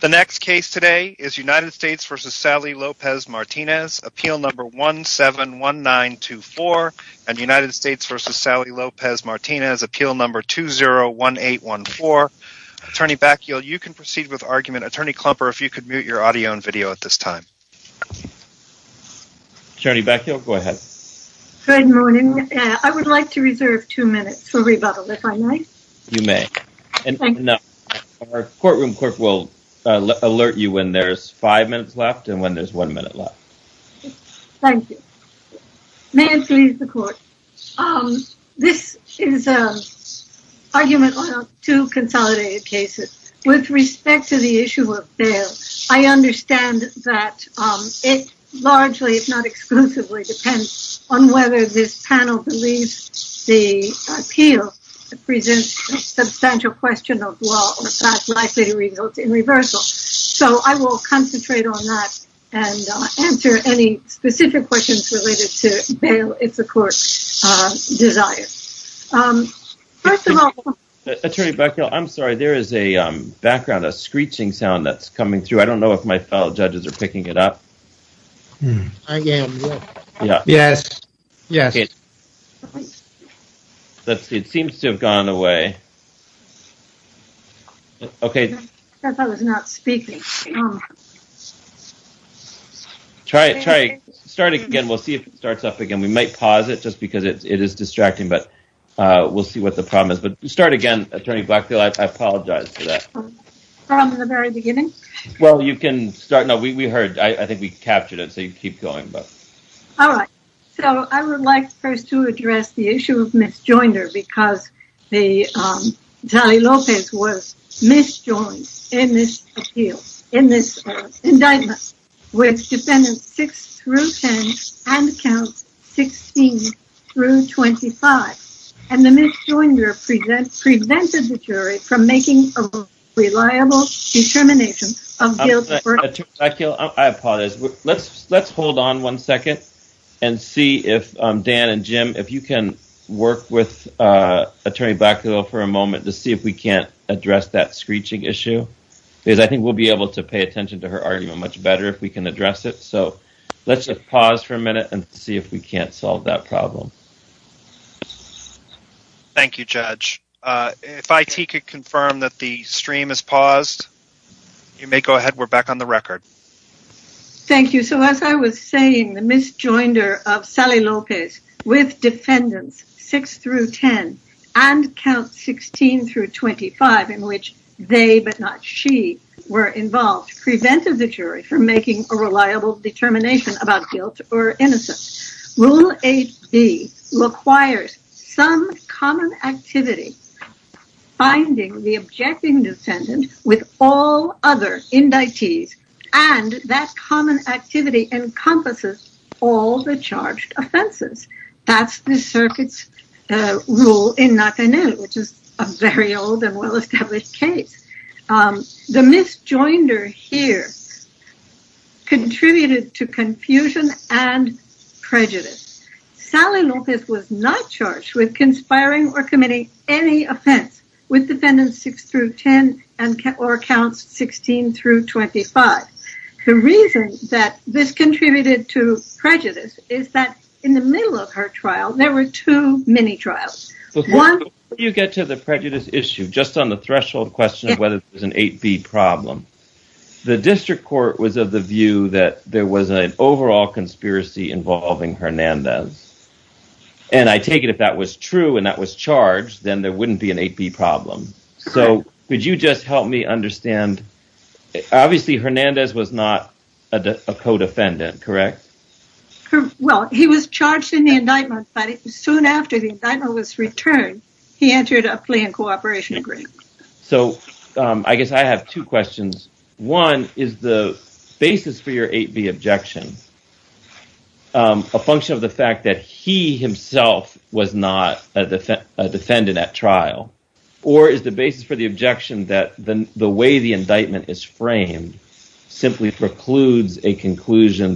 The next case today is United States v. Sally Lopez-Martinez, appeal number 171924, and United States v. Sally Lopez-Martinez, appeal number 201814. Attorney Bakkeel, you can proceed with argument. Attorney Klumper, if you could mute your audio and video at this time. Attorney Bakkeel, go ahead. Good morning. I would like to reserve two minutes for rebuttal, if I may. You may. Our courtroom clerk will alert you when there's five minutes left and when there's one minute left. Thank you. May it please the court. This is an argument on two consolidated cases. With respect to the issue of bail, I understand that it largely, if not exclusively, depends on whether this panel believes the appeal presents a substantial question of law or facts likely to result in reversal. So I will concentrate on that and answer any specific questions related to bail, if the court desires. First of all... Attorney Bakkeel, I'm sorry, there is a background, a screeching sound that's coming through. I don't know. Yes, yes. It seems to have gone away. Okay. I thought it was not speaking. Try it, try it. Start again. We'll see if it starts up again. We might pause it just because it is distracting, but we'll see what the problem is. But start again, Attorney Bakkeel. I apologize for that. From the very beginning? Well, you can start. No, we heard. I think we captured it, so you can keep going. All right. So I would like first to address the issue of misjoinder, because the Tali Lopez was misjoined in this appeal, in this indictment, with defendants six through 10 and counts 16 through 25. And the misjoinder prevented the jury from making reliable determinations. I apologize. Let's hold on one second and see if Dan and Jim, if you can work with Attorney Bakkeel for a moment to see if we can't address that screeching issue, because I think we'll be able to pay attention to her argument much better if we can address it. So let's just pause for a minute and see if we can't solve that problem. Thank you, Judge. If IT could confirm that the stream is paused, you may go ahead. We're back on the record. Thank you. So as I was saying, the misjoinder of Tali Lopez with defendants six through 10 and count 16 through 25, in which they, but not she, were involved, prevented the jury from making a reliable determination about guilt or innocence. Rule 8B requires some common activity, finding the objecting defendant with all other indictees, and that common activity encompasses all the charged offenses. That's the circuit's rule in Natanel, which is a very old and well-established case. The misjoinder here contributed to confusion and prejudice. Tali Lopez was not charged with conspiring or committing any offense with defendants six through 10 or counts 16 through 25. The reason that this contributed to prejudice is that in the middle of her trial, there were two mini-trials. Before you get to the prejudice issue, just on the threshold question of whether there's an 8B problem, the district court was of the view that there was an overall conspiracy involving Hernandez, and I take it if that was true and that was charged, then there wouldn't be an 8B problem. So could you just help me understand? Obviously, Hernandez was not a co-defendant, correct? Well, he was charged in the indictment, but soon after the indictment was returned, he entered a plea and cooperation agreement. So I guess I have two questions. One, is the basis for your 8B objection a function of the fact that he himself was not a defendant at trial, or is the basis for the objection that the way the indictment is framed simply precludes a jointer?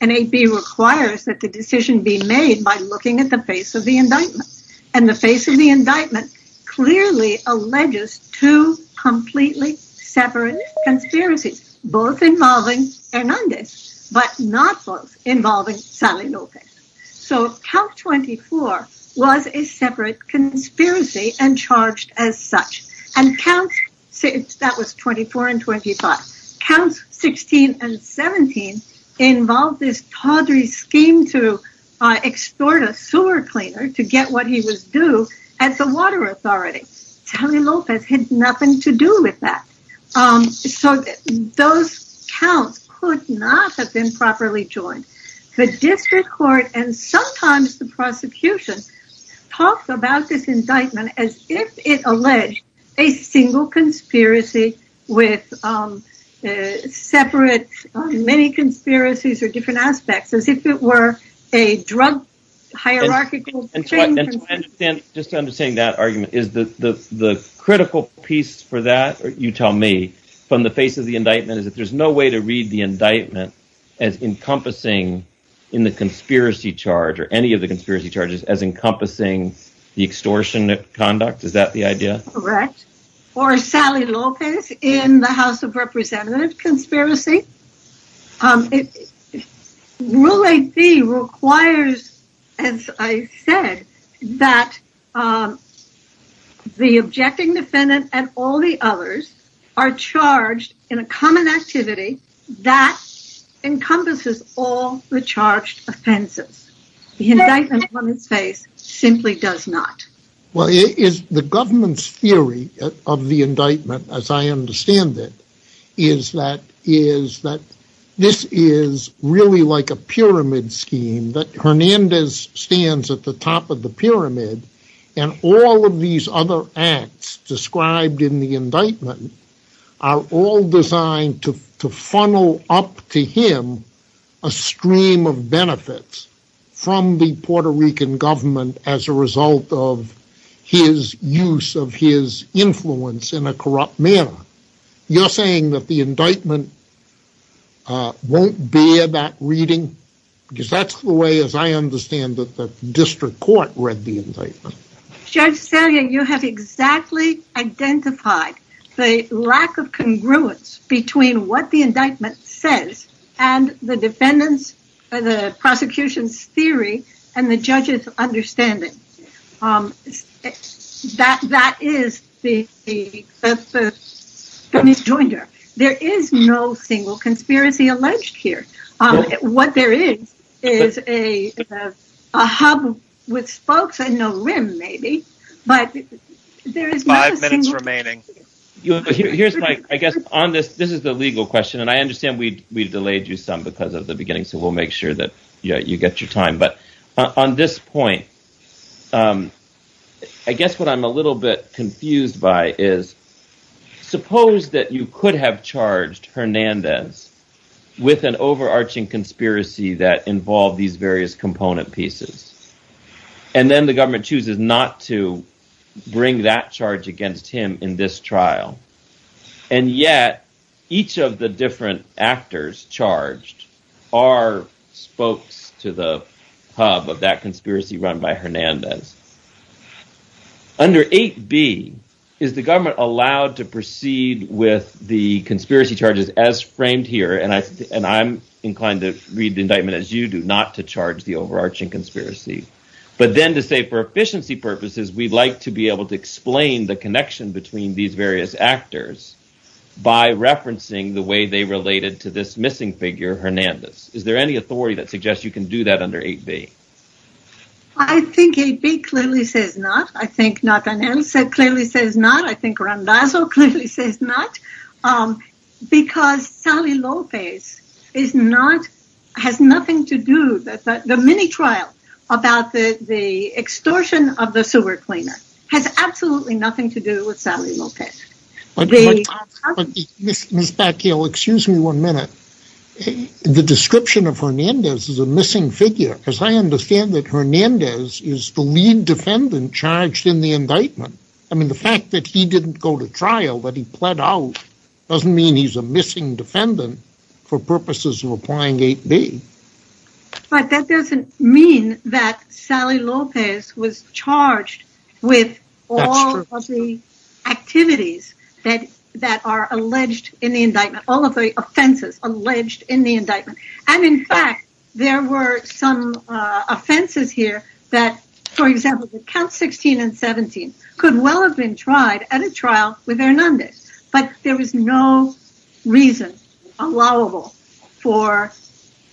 An 8B requires that the decision be made by looking at the face of the indictment, and the face of the indictment clearly alleges two completely separate conspiracies, both involving Hernandez, but not both involving Sally Lopez. So count 24 was a separate conspiracy and charged as such, and that was 24 and 25. Counts 16 and 17 involved this tawdry scheme to extort a sewer cleaner to get what he was due at the water authority. Sally Lopez had nothing to do with that. So those counts could not have been properly joined. The district court and sometimes the prosecution talked about this indictment as if it alleged a single conspiracy with separate many conspiracies or different aspects, as if it were a drug hierarchical... Just understanding that argument, is the critical piece for that, you tell me, from the face of the indictment is that there's no way to read the indictment as encompassing in the conspiracy charge or any of the conspiracy charges as encompassing the extortionate conduct? Is that the idea? Correct. Or Sally Lopez in the House of Representatives conspiracy? Rule 8B requires, as I said, that the objecting defendant and all the offenses. The indictment on his face simply does not. Well, it is the government's theory of the indictment, as I understand it, is that this is really like a pyramid scheme, that Hernandez stands at the top of the pyramid and all of these other acts described in the from the Puerto Rican government as a result of his use of his influence in a corrupt manner. You're saying that the indictment won't bear that reading? Because that's the way, as I understand, that the district court read the indictment. Judge Salyer, you have exactly identified the lack of congruence between what the indictment says and the defendant's or the prosecution's theory and the judge's understanding. There is no single conspiracy alleged here. What there is a hub with folks, I don't know, maybe, but there is five minutes remaining. Here's my, I guess on this, this is the legal question, and I understand we delayed you some because of the beginning, so we'll make sure that you get your time. But on this point, I guess what I'm a little bit confused by is, suppose that you could have charged Hernandez with an overarching conspiracy that involved these various component pieces, and then the government chooses not to bring that charge against him in this trial. And yet, each of the different actors charged are spokes to the hub of that conspiracy run by Hernandez. Under 8B, is the government allowed to proceed with the conspiracy charges as framed here, and I'm inclined to read the indictment as you do, not to charge the overarching conspiracy. But then to say for efficiency purposes, we'd like to be able to explain the connection between these various actors by referencing the way they related to this missing figure, Hernandez. Is there any authority that suggests you can do that under 8B? I think 8B clearly says not. I think Nathaniel said clearly says not. I think Randazzo clearly says not. Because Sally Lopez is not, has nothing to do, the mini-trial about the extortion of the sewer cleaner has absolutely nothing to do with Sally Lopez. But Ms. Batyal, excuse me one minute. The description of Hernandez is a missing figure, because I understand that Hernandez is the lead defendant charged in the indictment. I mean, the fact that he didn't go to trial, that he pled out, doesn't mean he's a missing defendant for purposes of applying 8B. But that doesn't mean that Sally Lopez was charged with all of the activities that are alleged in the indictment, all of the offenses alleged in the indictment. And in fact, there were some offenses here that, for example, count 16 and 17 could well have been tried at a trial with Hernandez. But there was no reason allowable for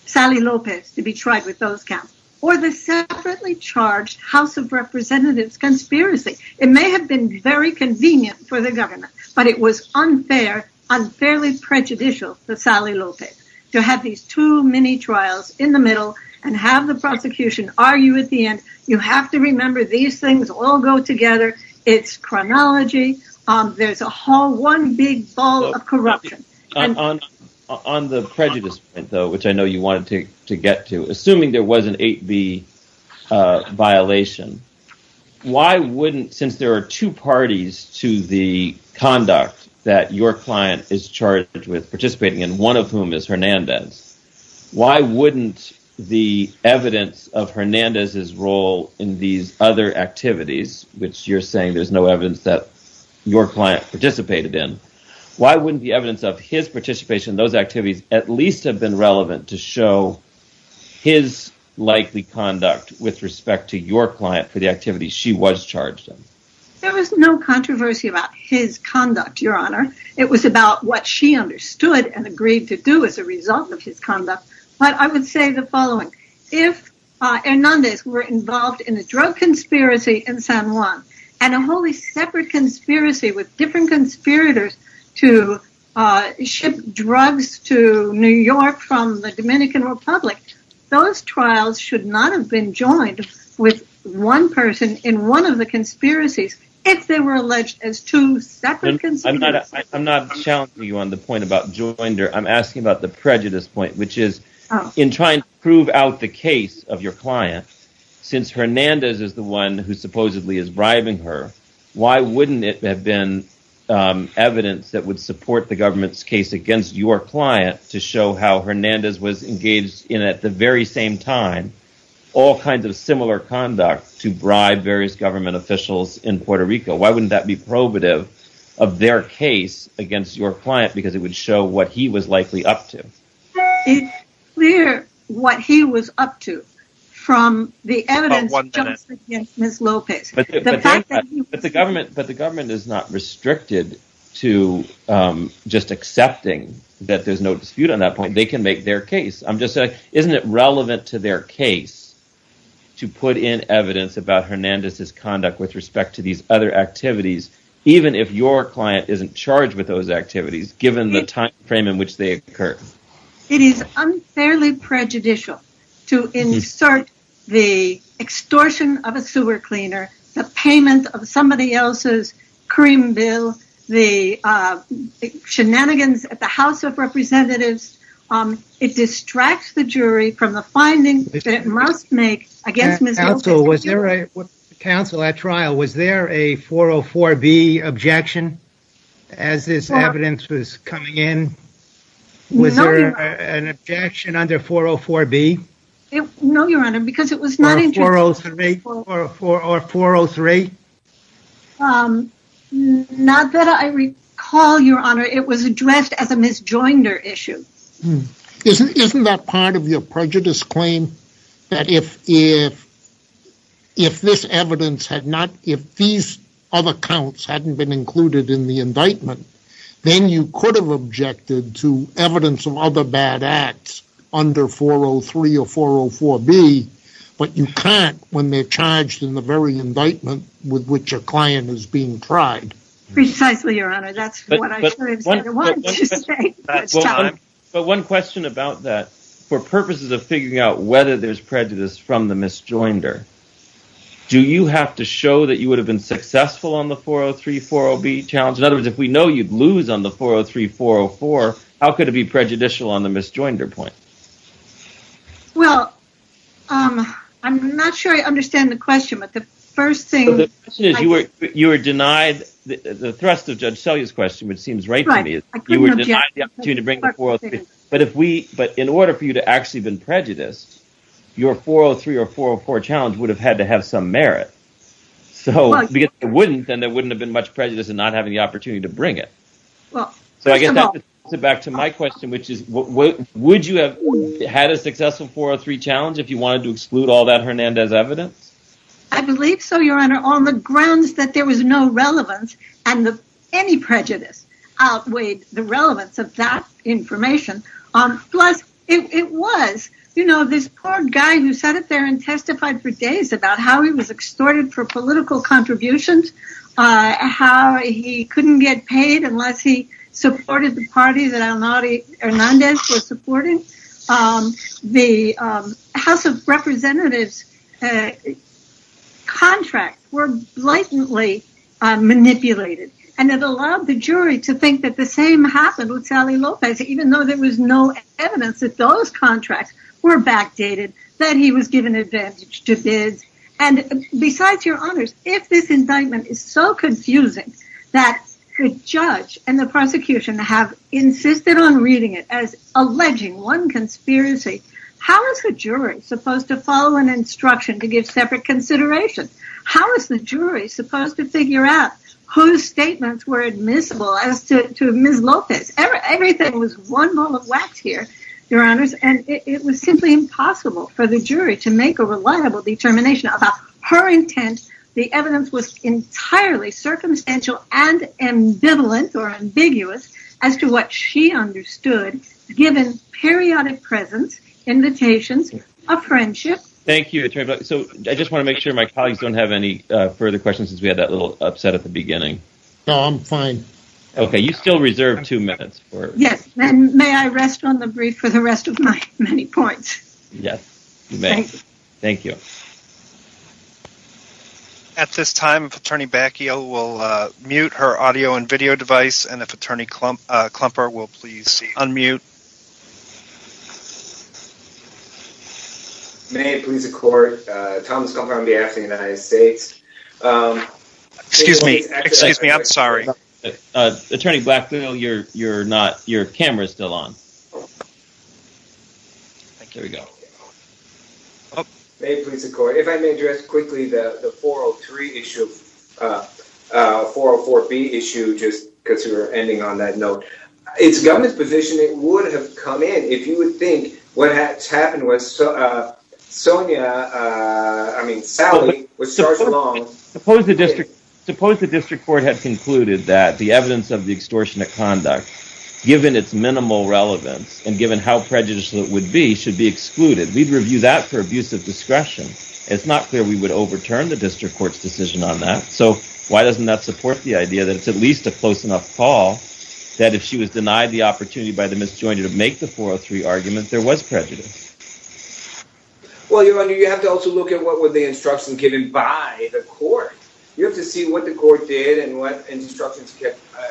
Sally Lopez to be tried with those counts. Or the separately charged House of Representatives conspiracy. It may have been very convenient for the government, but it was unfair, unfairly prejudicial for Sally Lopez to have these two mini-trials in the middle and have the prosecution argue at the end. You have to remember these things all go together. It's chronology. There's a whole, one big ball of corruption. On the prejudice, though, which I know you wanted to get to, assuming there was an 8B violation, why wouldn't, since there are two parties to the conduct that your client is charged with participating in, one of whom is Hernandez, why wouldn't the evidence of Hernandez's role in these other activities, which you're saying there's no evidence that your client participated in, why wouldn't the evidence of his participation in those activities at least have been relevant to show his likely conduct with respect to your client for the activities she was charged in? There was no controversy about his conduct, Your Honor. It was about what she understood and agreed to do as a result of his conduct. But I would say the following. If Hernandez were involved in a drug conspiracy in San Juan and a wholly separate with different conspirators to ship drugs to New York from the Dominican Republic, those trials should not have been joined with one person in one of the conspiracies if they were alleged as two separate conspirators. I'm not challenging you on the point about joinder. I'm asking about the prejudice point, which is in trying to prove out the case of your Why wouldn't it have been evidence that would support the government's case against your client to show how Hernandez was engaged in at the very same time all kinds of similar conduct to bribe various government officials in Puerto Rico? Why wouldn't that be probative of their case against your client? Because it would show what he was likely up to. It's clear what he was up to from the evidence against Ms. Lopez. But the government is not restricted to just accepting that there's no dispute on that point. They can make their case. I'm just saying, isn't it relevant to their case to put in evidence about Hernandez's conduct with respect to these other activities, even if your client isn't charged with those activities, given the time frame in which they It is unfairly prejudicial to insert the extortion of a sewer cleaner, the payment of somebody else's cream bill, the shenanigans at the House of Representatives. It distracts the jury from the findings that it must make against Ms. Lopez. Counsel, at trial, was there a 404B objection as this evidence was coming in? Was there an objection under 404B? No, Your Honor, because it was not... Or 403? Not that I recall, Your Honor. It was addressed as a Ms. Joinder issue. Isn't that part of your prejudice claim that if this evidence had not, if these other counts hadn't been included in the indictment, then you could have objected to evidence of other bad acts under 403 or 404B, but you can't when they're charged in the very indictment with which a client is being tried? Precisely, Your Honor. That's what I wanted to say. But one question about that, for purposes of figuring out whether there's prejudice from the Ms. Joinder, do you have to show that you would have been successful on the 403, 40B challenge? In other words, if we know you'd lose on the 403, 404, how could it be prejudicial on the Ms. Joinder point? Well, I'm not sure I understand the question, but the first thing... You were denied the thrust of Judge Selye's question, which seems right to me. I couldn't object. You were denied the opportunity to bring the 403, but in order for you to actually have been challenged, you would have had to have some merit. Because if you wouldn't, then there wouldn't have been much prejudice in not having the opportunity to bring it. So I guess I have to get back to my question, which is, would you have had a successful 403 challenge if you wanted to exclude all that Hernandez evidence? I believe so, Your Honor, on the grounds that there was no relevance and that any prejudice outweighed the relevance of that information. Plus, it was this poor guy who sat up there and testified for days about how he was extorted for political contributions, how he couldn't get paid unless he supported the party that Hernandez was supporting. The House of Representatives' contracts were blatantly manipulated, and it allowed the jury to think that the same happened with Sally Lopez, even though there was no evidence that those did. Besides, Your Honors, if this indictment is so confusing that the judge and the prosecution have insisted on reading it as alleging one conspiracy, how is the jury supposed to follow an instruction to give separate consideration? How is the jury supposed to figure out whose statements were admissible as to Ms. Lopez? Everything was one ball of wax here, Your Honors, and it was simply impossible for the jury to make a reliable determination about her intent. The evidence was entirely circumstantial and ambivalent, or ambiguous, as to what she understood, given periodic presence, invitations, a friendship. Thank you, Attorney Black. I just want to make sure my colleagues don't have any further questions since we had that little upset at the beginning. No, I'm fine. Okay, you still reserve two minutes. Yes, and may I rest on the brief for the many points? Yes, you may. Thank you. At this time, if Attorney Bacchio will mute her audio and video device, and if Attorney Klumper will please unmute. May it please the court, Thomas Klumper on behalf of the United States. Excuse me, excuse me, I'm sorry. Attorney Bacchio, your camera's still on. Here we go. May it please the court, if I may address quickly the 403 issue, 404B issue, just because you were ending on that note. It's government's position it would have come in if you would think what had happened was Sonia, I mean Sally, would start along. Suppose the district court had concluded that the evidence of the extortion of conduct, given its minimal relevance, and given how prejudicial it would be, should be excluded. We'd review that for abuse of discretion. It's not clear we would overturn the district court's decision on that, so why doesn't that support the idea that it's at least a close enough call that if she was denied the opportunity by the misjointed to make the 403 argument, there was prejudice? Well, Your Honor, you have to also look at what were the instructions given by the court. You have to see what the court did and what instructions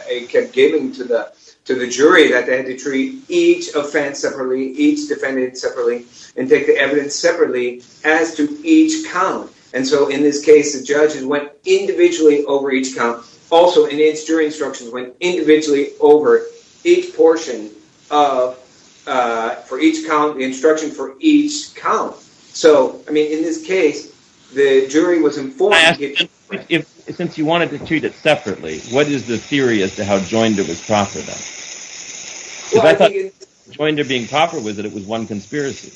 it kept giving to the jury, that they had to treat each offense separately, each defendant separately, and take the evidence separately as to each count. And so in this case, the judges went individually over each count. Also, in its jury instructions, went individually over each portion of, for each count, the instruction for each count. So, I mean, in this case, the jury was informed... Since you wanted to treat it separately, what is the theory as to how Joinder was proper then? Because I thought Joinder being proper with it, it was one conspiracy.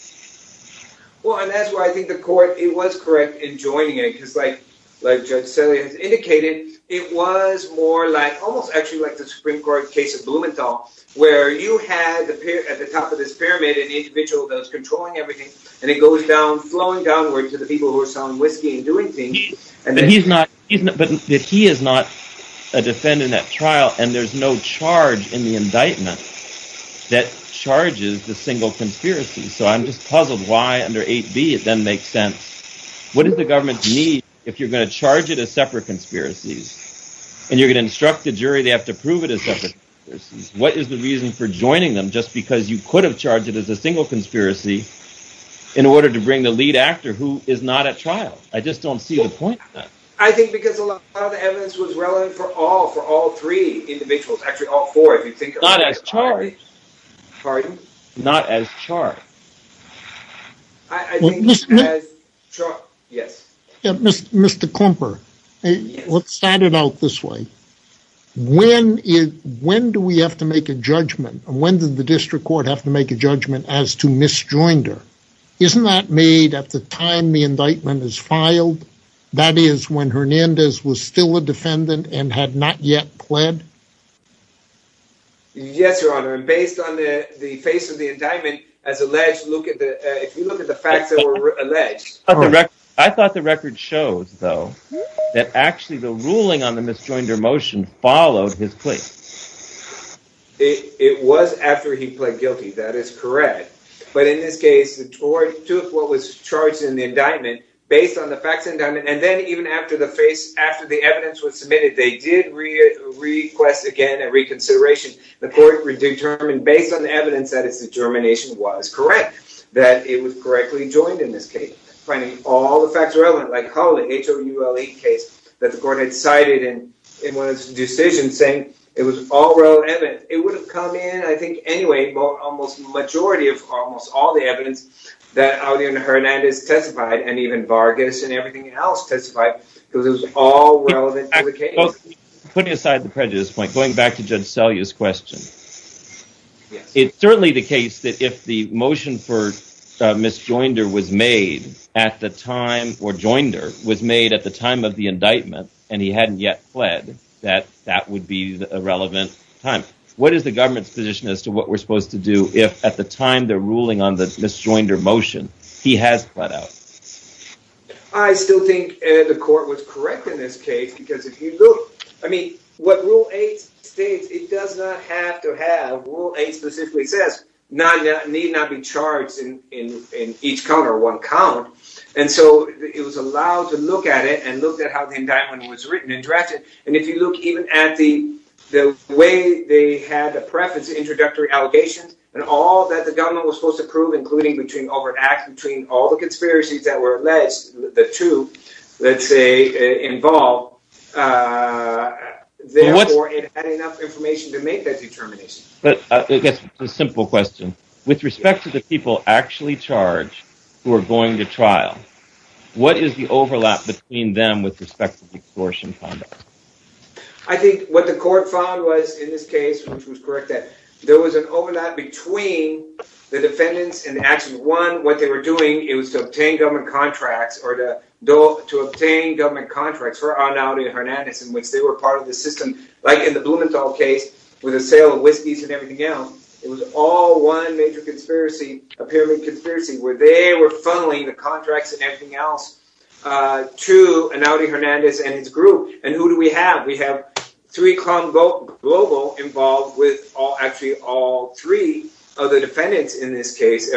Well, and that's why I think the court, it was correct in joining it, because like like Judge Selly has indicated, it was more like, almost actually like the Supreme Court case of Blumenthal, where you had at the top of this pyramid an individual that was controlling everything, and it goes down, flowing downward to the people who are selling whiskey and doing things. And then he's not, but he is not a defendant in that trial, and there's no charge in the indictment that charges the single conspiracy. So I'm just puzzled why under 8b it then makes sense. What does the government need if you're going to charge it as separate conspiracies? And you're going to instruct the jury, they have to prove it as separate conspiracies. What is the reason for joining them? Just because you could have charged it as a single conspiracy in order to bring the lead actor who is not at trial. I just don't see the point of that. I think because a lot of the evidence was relevant for all, for all three individuals, actually all four, if you think about it. Not as charged. Pardon? Not as charged. I think as charged, yes. Mr. Klumper, let's start it out this way. When is, when do we have to make a judgment? When did the district court have to make a judgment as to misjoinder? Isn't that made at the time the indictment is filed? That is when Hernandez was still a defendant and had not yet pled? Yes, your honor. And based on the face of the indictment, as alleged, look at the, if you look at the facts that were alleged. I thought the record shows, though, that actually the ruling on the misjoinder motion followed his plea. It was after he pled guilty. That is correct. But in this case, the two of four was charged in the indictment based on the facts of the indictment. And then even after the face, after the evidence was submitted, they did request again at reconsideration. The court determined based on the evidence that its determination was correct, that it was correctly joined in this case. All the facts are relevant. Like how the H.O.U.L.E. case that the court had cited in one of its decisions saying it was all relevant. It would have come in, I think anyway, almost majority of almost all the evidence that Aldean Hernandez testified and even Vargas and everything else testified because it was all relevant to the case. Putting aside the prejudice point, going back to Judge Selye's question. Yes, it's certainly the case that if the motion for misjoinder was made at the time or joinder was made at the time of the indictment and he hadn't yet pled that that would be a relevant time. What is the government's position as to what we're supposed to do if at the time they're ruling on the misjoinder motion he has pled out? I still think the court was correct in this case, because if you look, I mean, what rule 8 states, it does not have to have, rule 8 specifically says, need not be charged in each count or one count. And so it was allowed to look at it and look at how the indictment was written and drafted. And if you look even at the way they had the preface introductory allegations and all that the government was supposed to prove, including between over an act between all the conspiracies that were alleged. The two, let's say, involved. Therefore, it had enough information to make that determination. But I guess a simple question with respect to the people actually charged who are going to trial. What is the overlap between them with respect to the extortion conduct? I think what the court found was in this case, which was correct, that there was an overlap between the defendants and actually one what they were doing. It was to obtain government contracts or to obtain government contracts for Anaudi Hernandez, in which they were part of the system, like in the Blumenthal case with the sale of whiskeys and everything else. It was all one major conspiracy, a pyramid conspiracy, where they were funneling the contracts and everything else to Anaudi Hernandez and his group. And who do we have? We have three convo global involved with all actually all three of the defendants in this case,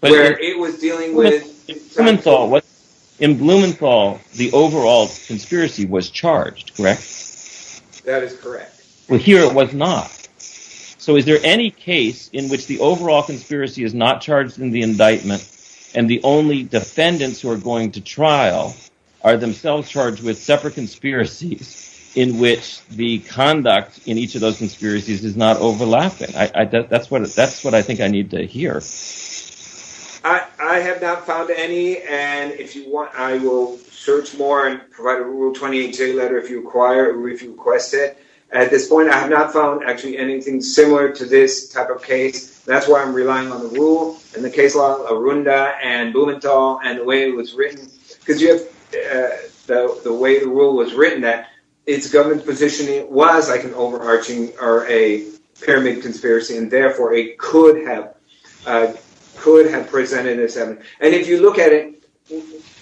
but it was dealing with. In Blumenthal, the overall conspiracy was charged, correct? That is correct. Well, here it was not. So is there any case in which the overall conspiracy is not charged in the indictment and the only defendants who are going to trial are themselves charged with separate conspiracies in which the conduct in each of those conspiracies is not overlapping? That's what that's what I think I need to hear. I have not found any. And if you want, I will search more and provide a rule 28 letter if you require or if you request it. At this point, I have not found actually anything similar to this type of case. That's why I'm relying on the rule and the case law of Runda and Blumenthal and the way it was written, because you have the way the rule was written that its government positioning was like an overarching or a pyramid conspiracy. And therefore, it could have could have presented this. And if you look at it,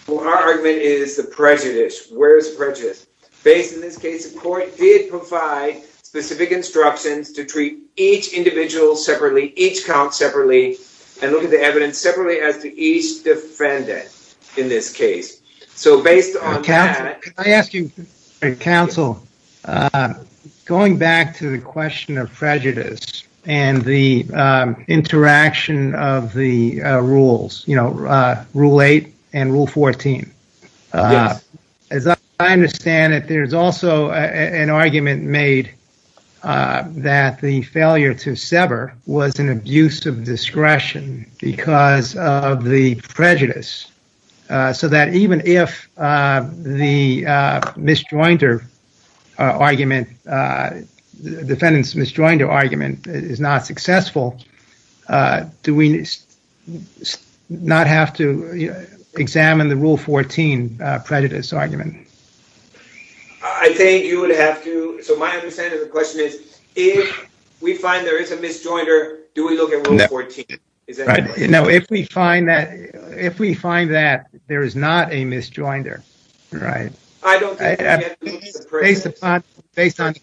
our argument is the prejudice. Where is prejudice based in this case? The court did provide specific instructions to treat each individual separately, each count separately and look at the evidence separately as to each defendant in this case. So based on I ask you, counsel, going back to the question of prejudice and the interaction of the rules, you know, rule eight and rule 14, as I understand it, there's also an argument made that the failure to sever was an abuse of discretion because of the prejudice. So that even if the misjoinder argument, defendant's misjoinder argument is not successful, do we not have to examine the rule 14 prejudice argument? I think you would have to. So my understanding of the question is, if we find there is a misjoinder, do we look at rule 14? You know, if we find that if we find that there is not a misjoinder, right? I don't think it's based upon based on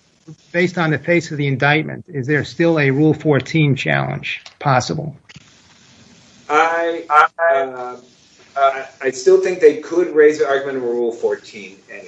based on the face of the indictment. Is there still a rule 14 challenge possible? I still think they could raise the argument of rule 14 anyway.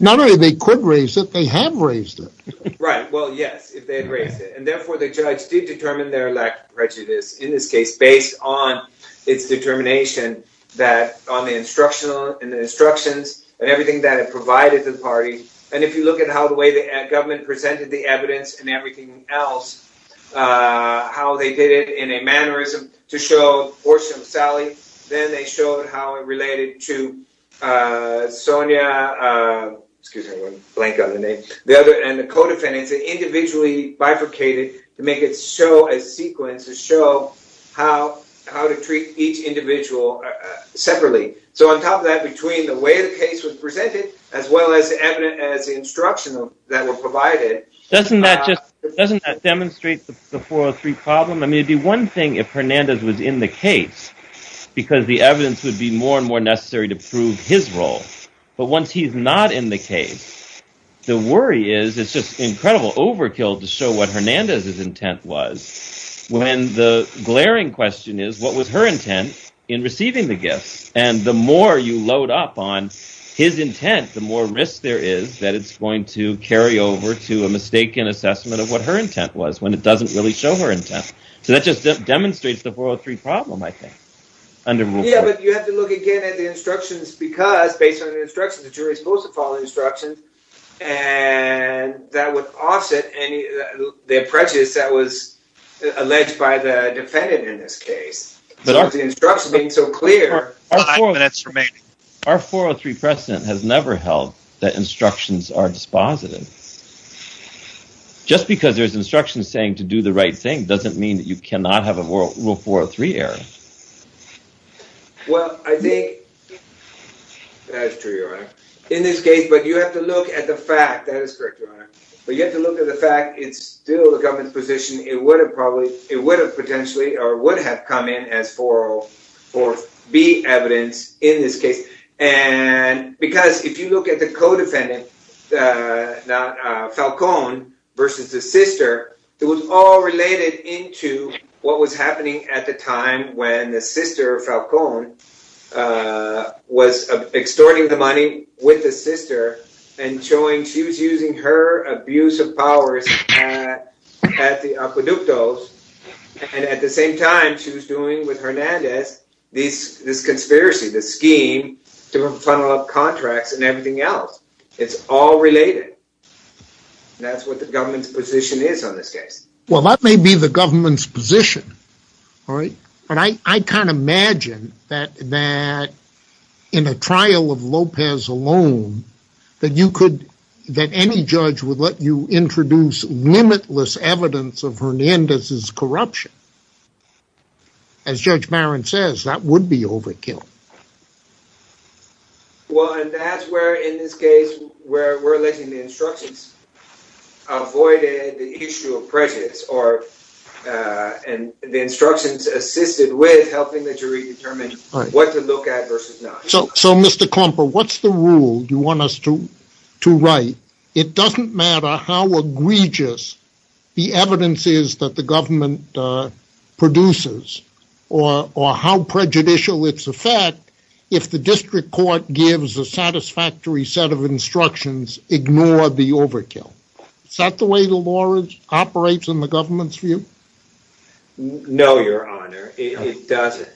Not only they could raise it, they have raised it. Right. Well, yes, if they had raised it. Therefore, the judge did determine their lack of prejudice in this case based on its determination that on the instructional and the instructions and everything that it provided the party. And if you look at how the way the government presented the evidence and everything else, how they did it in a mannerism to show Orson, Sally, then they showed how it related to Sonia, excuse me, blank on the name, the other and the co-defendants individually bifurcated to make it show a sequence to show how how to treat each individual separately. So on top of that, between the way the case was presented, as well as the evidence as instructional that were provided. Doesn't that just doesn't that demonstrate the 403 problem? I mean, it'd be one thing if Hernandez was in the case because the evidence would be more and more necessary to prove his role. But once he's not in the case, the worry is it's just incredible overkill to show what Hernandez's intent was when the glaring question is, what was her intent in receiving the gifts? And the more you load up on his intent, the more risk there is that it's going to carry over to a mistaken assessment of what her intent was when it doesn't really show her intent. So that just demonstrates the 403 problem, I think. Yeah, but you have to look again at the instructions because based on the instructions, the jury is supposed to follow instructions. And that would offset any prejudice that was alleged by the defendant in this case. But the instruction being so clear. Our 403 precedent has never held that instructions are dispositive. Just because there's instructions saying to do the right thing doesn't mean that you cannot have a rule 403 error. Well, I think that's true, Your Honor. In this case, but you have to look at the fact. That is correct, Your Honor. But you have to look at the fact it's still the government's position. It would have potentially or would have come in as 404B evidence in this case. And because if you look at the co-defendant, Falcone versus the sister, it was all related into what was happening at the time when the sister, Falcone, was extorting the money with the sister and showing she was using her abuse of powers at the Apoductos. And at the same time, she was doing with Hernandez this conspiracy, this scheme to funnel up contracts and everything else. It's all related. That's what the government's position is on this case. Well, that may be the government's position. All right. But I can't imagine that in a trial of Lopez alone that you could, that any judge would let you introduce limitless evidence of Hernandez's corruption. As Judge Barron says, that would be overkill. Well, and that's where, in this case, where we're letting the instructions avoid the issue of prejudice or the instructions assisted with helping the jury determine what to look at versus not. So, Mr. Klumper, what's the rule you want us to write? It doesn't matter how egregious the evidence is that the government produces or how prejudicial its effect, if the district court gives a satisfactory set of instructions, ignore the overkill. Is that the way the law operates in the government's view? No, Your Honor, it doesn't.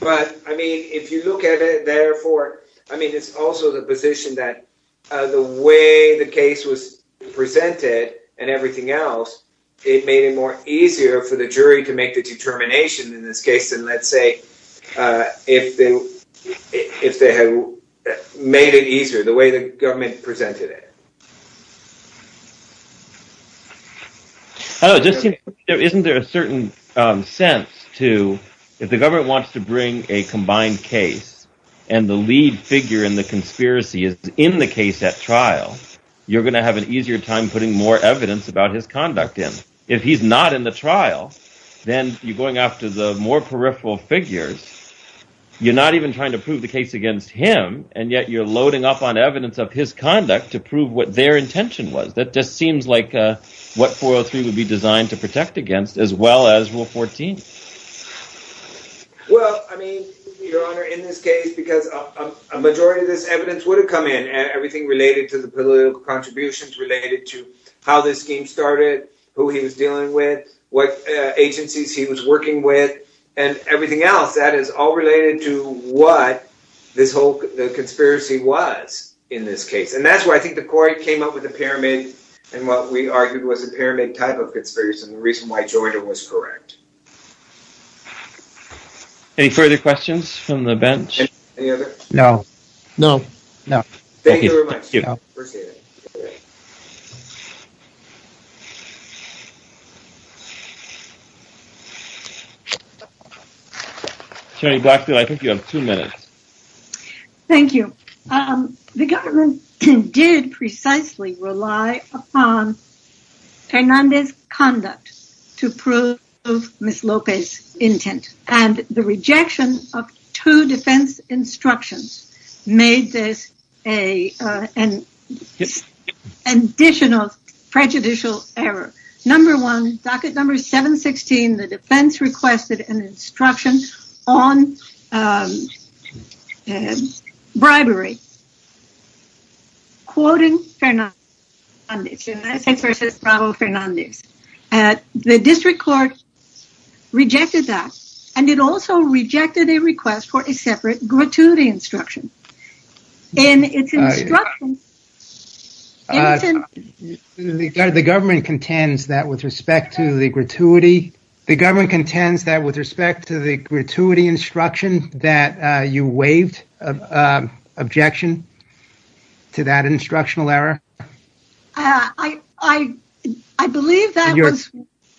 But, I mean, if you look at it, therefore, I mean, it's also the position that the way the case was presented and everything else, it made it more easier for the jury to make a determination in this case than, let's say, if they had made it easier, the way the government presented it. I was just thinking, isn't there a certain sense to, if the government wants to bring a combined case and the lead figure in the conspiracy is in the case at trial, you're going to have an easier time putting more evidence about his conduct in. If he's not in the trial, then you're going after the more peripheral figures. You're not even trying to prove the case against him, and yet you're loading up on evidence of his conduct to prove what their intention was. That just seems like what 403 would be designed to protect against, as well as Rule 14. Well, I mean, Your Honor, in this case, because a majority of this evidence would have come in and everything related to the political contributions, related to how this scheme started, who he was dealing with, what agencies he was working with, and everything else, that is all related to what this whole conspiracy was in this case. And that's why I think the court came up with a pyramid, and what we argued was a pyramid type of conspiracy, and the reason why Joyner was correct. Any further questions from the bench? Any other? No. No. No. Thank you very much. Appreciate it. Attorney Blackfield, I think you have two minutes. Thank you. The government did precisely rely upon Hernandez's conduct to prove Ms. Lopez's intent, and the rejection of two defense instructions made this an additional prejudicial error. Number one, docket number 716, the defense requested an instruction on bribery, quoting Hernandez, and that's versus Bravo-Hernandez. The district court rejected that, and it also rejected a request for a separate gratuity instruction, and it's instruction, and it's an— The government contends that with respect to the gratuity, the government contends that with respect to the gratuity instruction that you waived an objection to that instructional error? I believe that was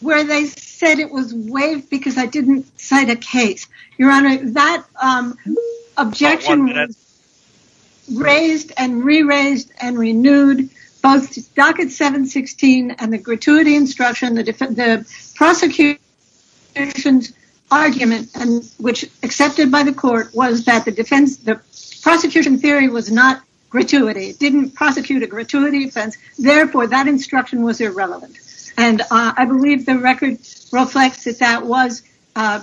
where they said it was waived because I didn't cite a case. Your Honor, that objection was raised and re-raised and renewed, both docket 716 and the gratuity instruction. The prosecution's argument, which accepted by the court, was that the prosecution theory was not gratuity. It didn't prosecute a gratuity offense. Therefore, that instruction was irrelevant, and I believe the record reflects that that was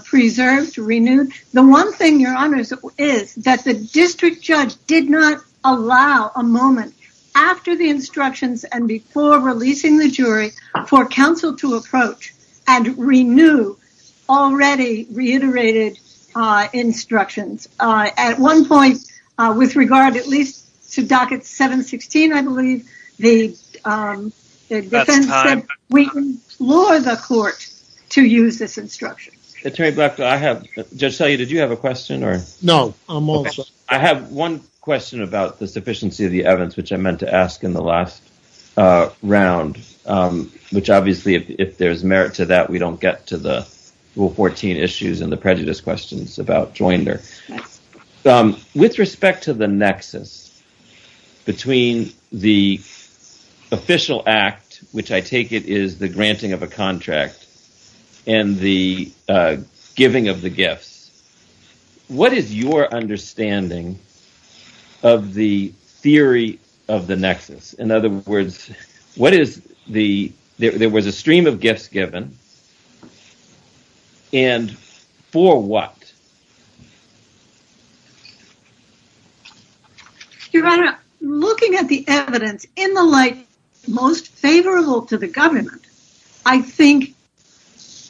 preserved, renewed. The one thing, Your Honor, is that the district judge did not allow a moment after the instructions and before releasing the jury for counsel to approach and renew already reiterated instructions. At one point, with regard at least to docket 716, I believe, the defense said we can implore the court to use this instruction. Attorney Black, did you have a question? No, I'm also— I have one question about the sufficiency of the evidence, which I meant to ask in the last round, which obviously if there's merit to that, we don't get to the Rule 14 issues and the prejudice questions about Joinder. With respect to the nexus between the official act, which I take it is the granting of a contract, and the giving of the gifts, what is your understanding of the theory of the In other words, what is the—there was a stream of gifts given, and for what? Your Honor, looking at the evidence in the light most favorable to the government, I think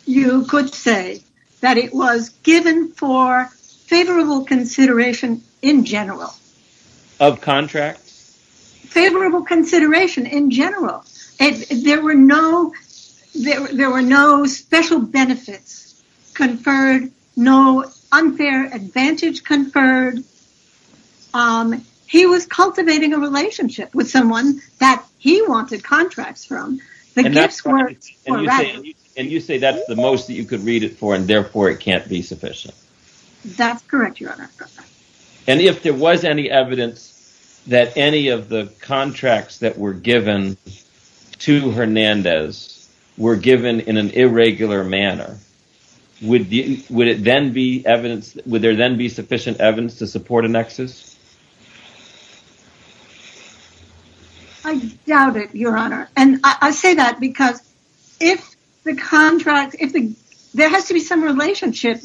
you could say that it was given for favorable consideration in general. Of contracts? Favorable consideration in general. There were no special benefits conferred, no unfair advantage conferred. He was cultivating a relationship with someone that he wanted contracts from. And you say that's the most that you could read it for, and therefore it can't be sufficient. That's correct, Your Honor. And if there was any evidence that any of the contracts that were given to Hernandez were given in an irregular manner, would there then be sufficient evidence to support a nexus? I doubt it, Your Honor. And I say that because if the contract—there has to be some relationship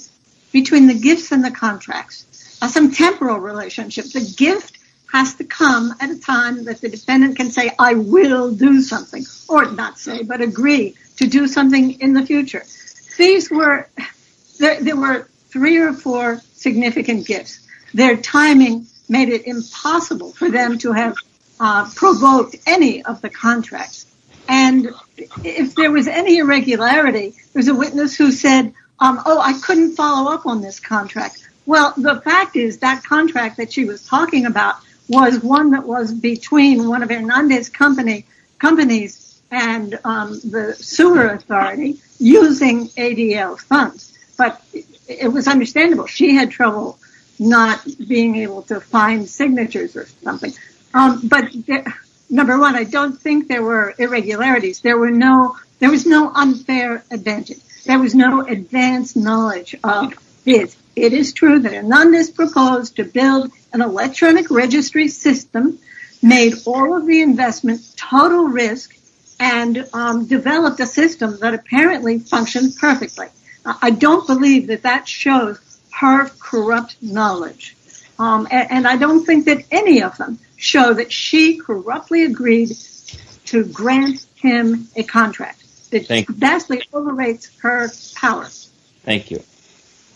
between the gifts and the contracts, some temporal relationship. The gift has to come at a time that the defendant can say, I will do something, or not say, but agree to do something in the future. There were three or four significant gifts. Their timing made it impossible for them to have provoked any of the contracts. And if there was any irregularity, there's a witness who said, oh, I couldn't follow up on this contract. Well, the fact is that contract that she was talking about was one that was between one of Hernandez' companies and the sewer authority using ADL funds. But it was understandable. She had trouble not being able to find signatures or something. But number one, I don't think there were irregularities. There was no unfair advantage. There was no advanced knowledge of gifts. It is true that Hernandez proposed to build an electronic registry system, made all of the investment total risk, and developed a system that apparently functioned perfectly. I don't believe that that shows her corrupt knowledge. And I don't think that any of them show that she corruptly agreed to grant him a contract. It vastly overrates her powers. Thank you.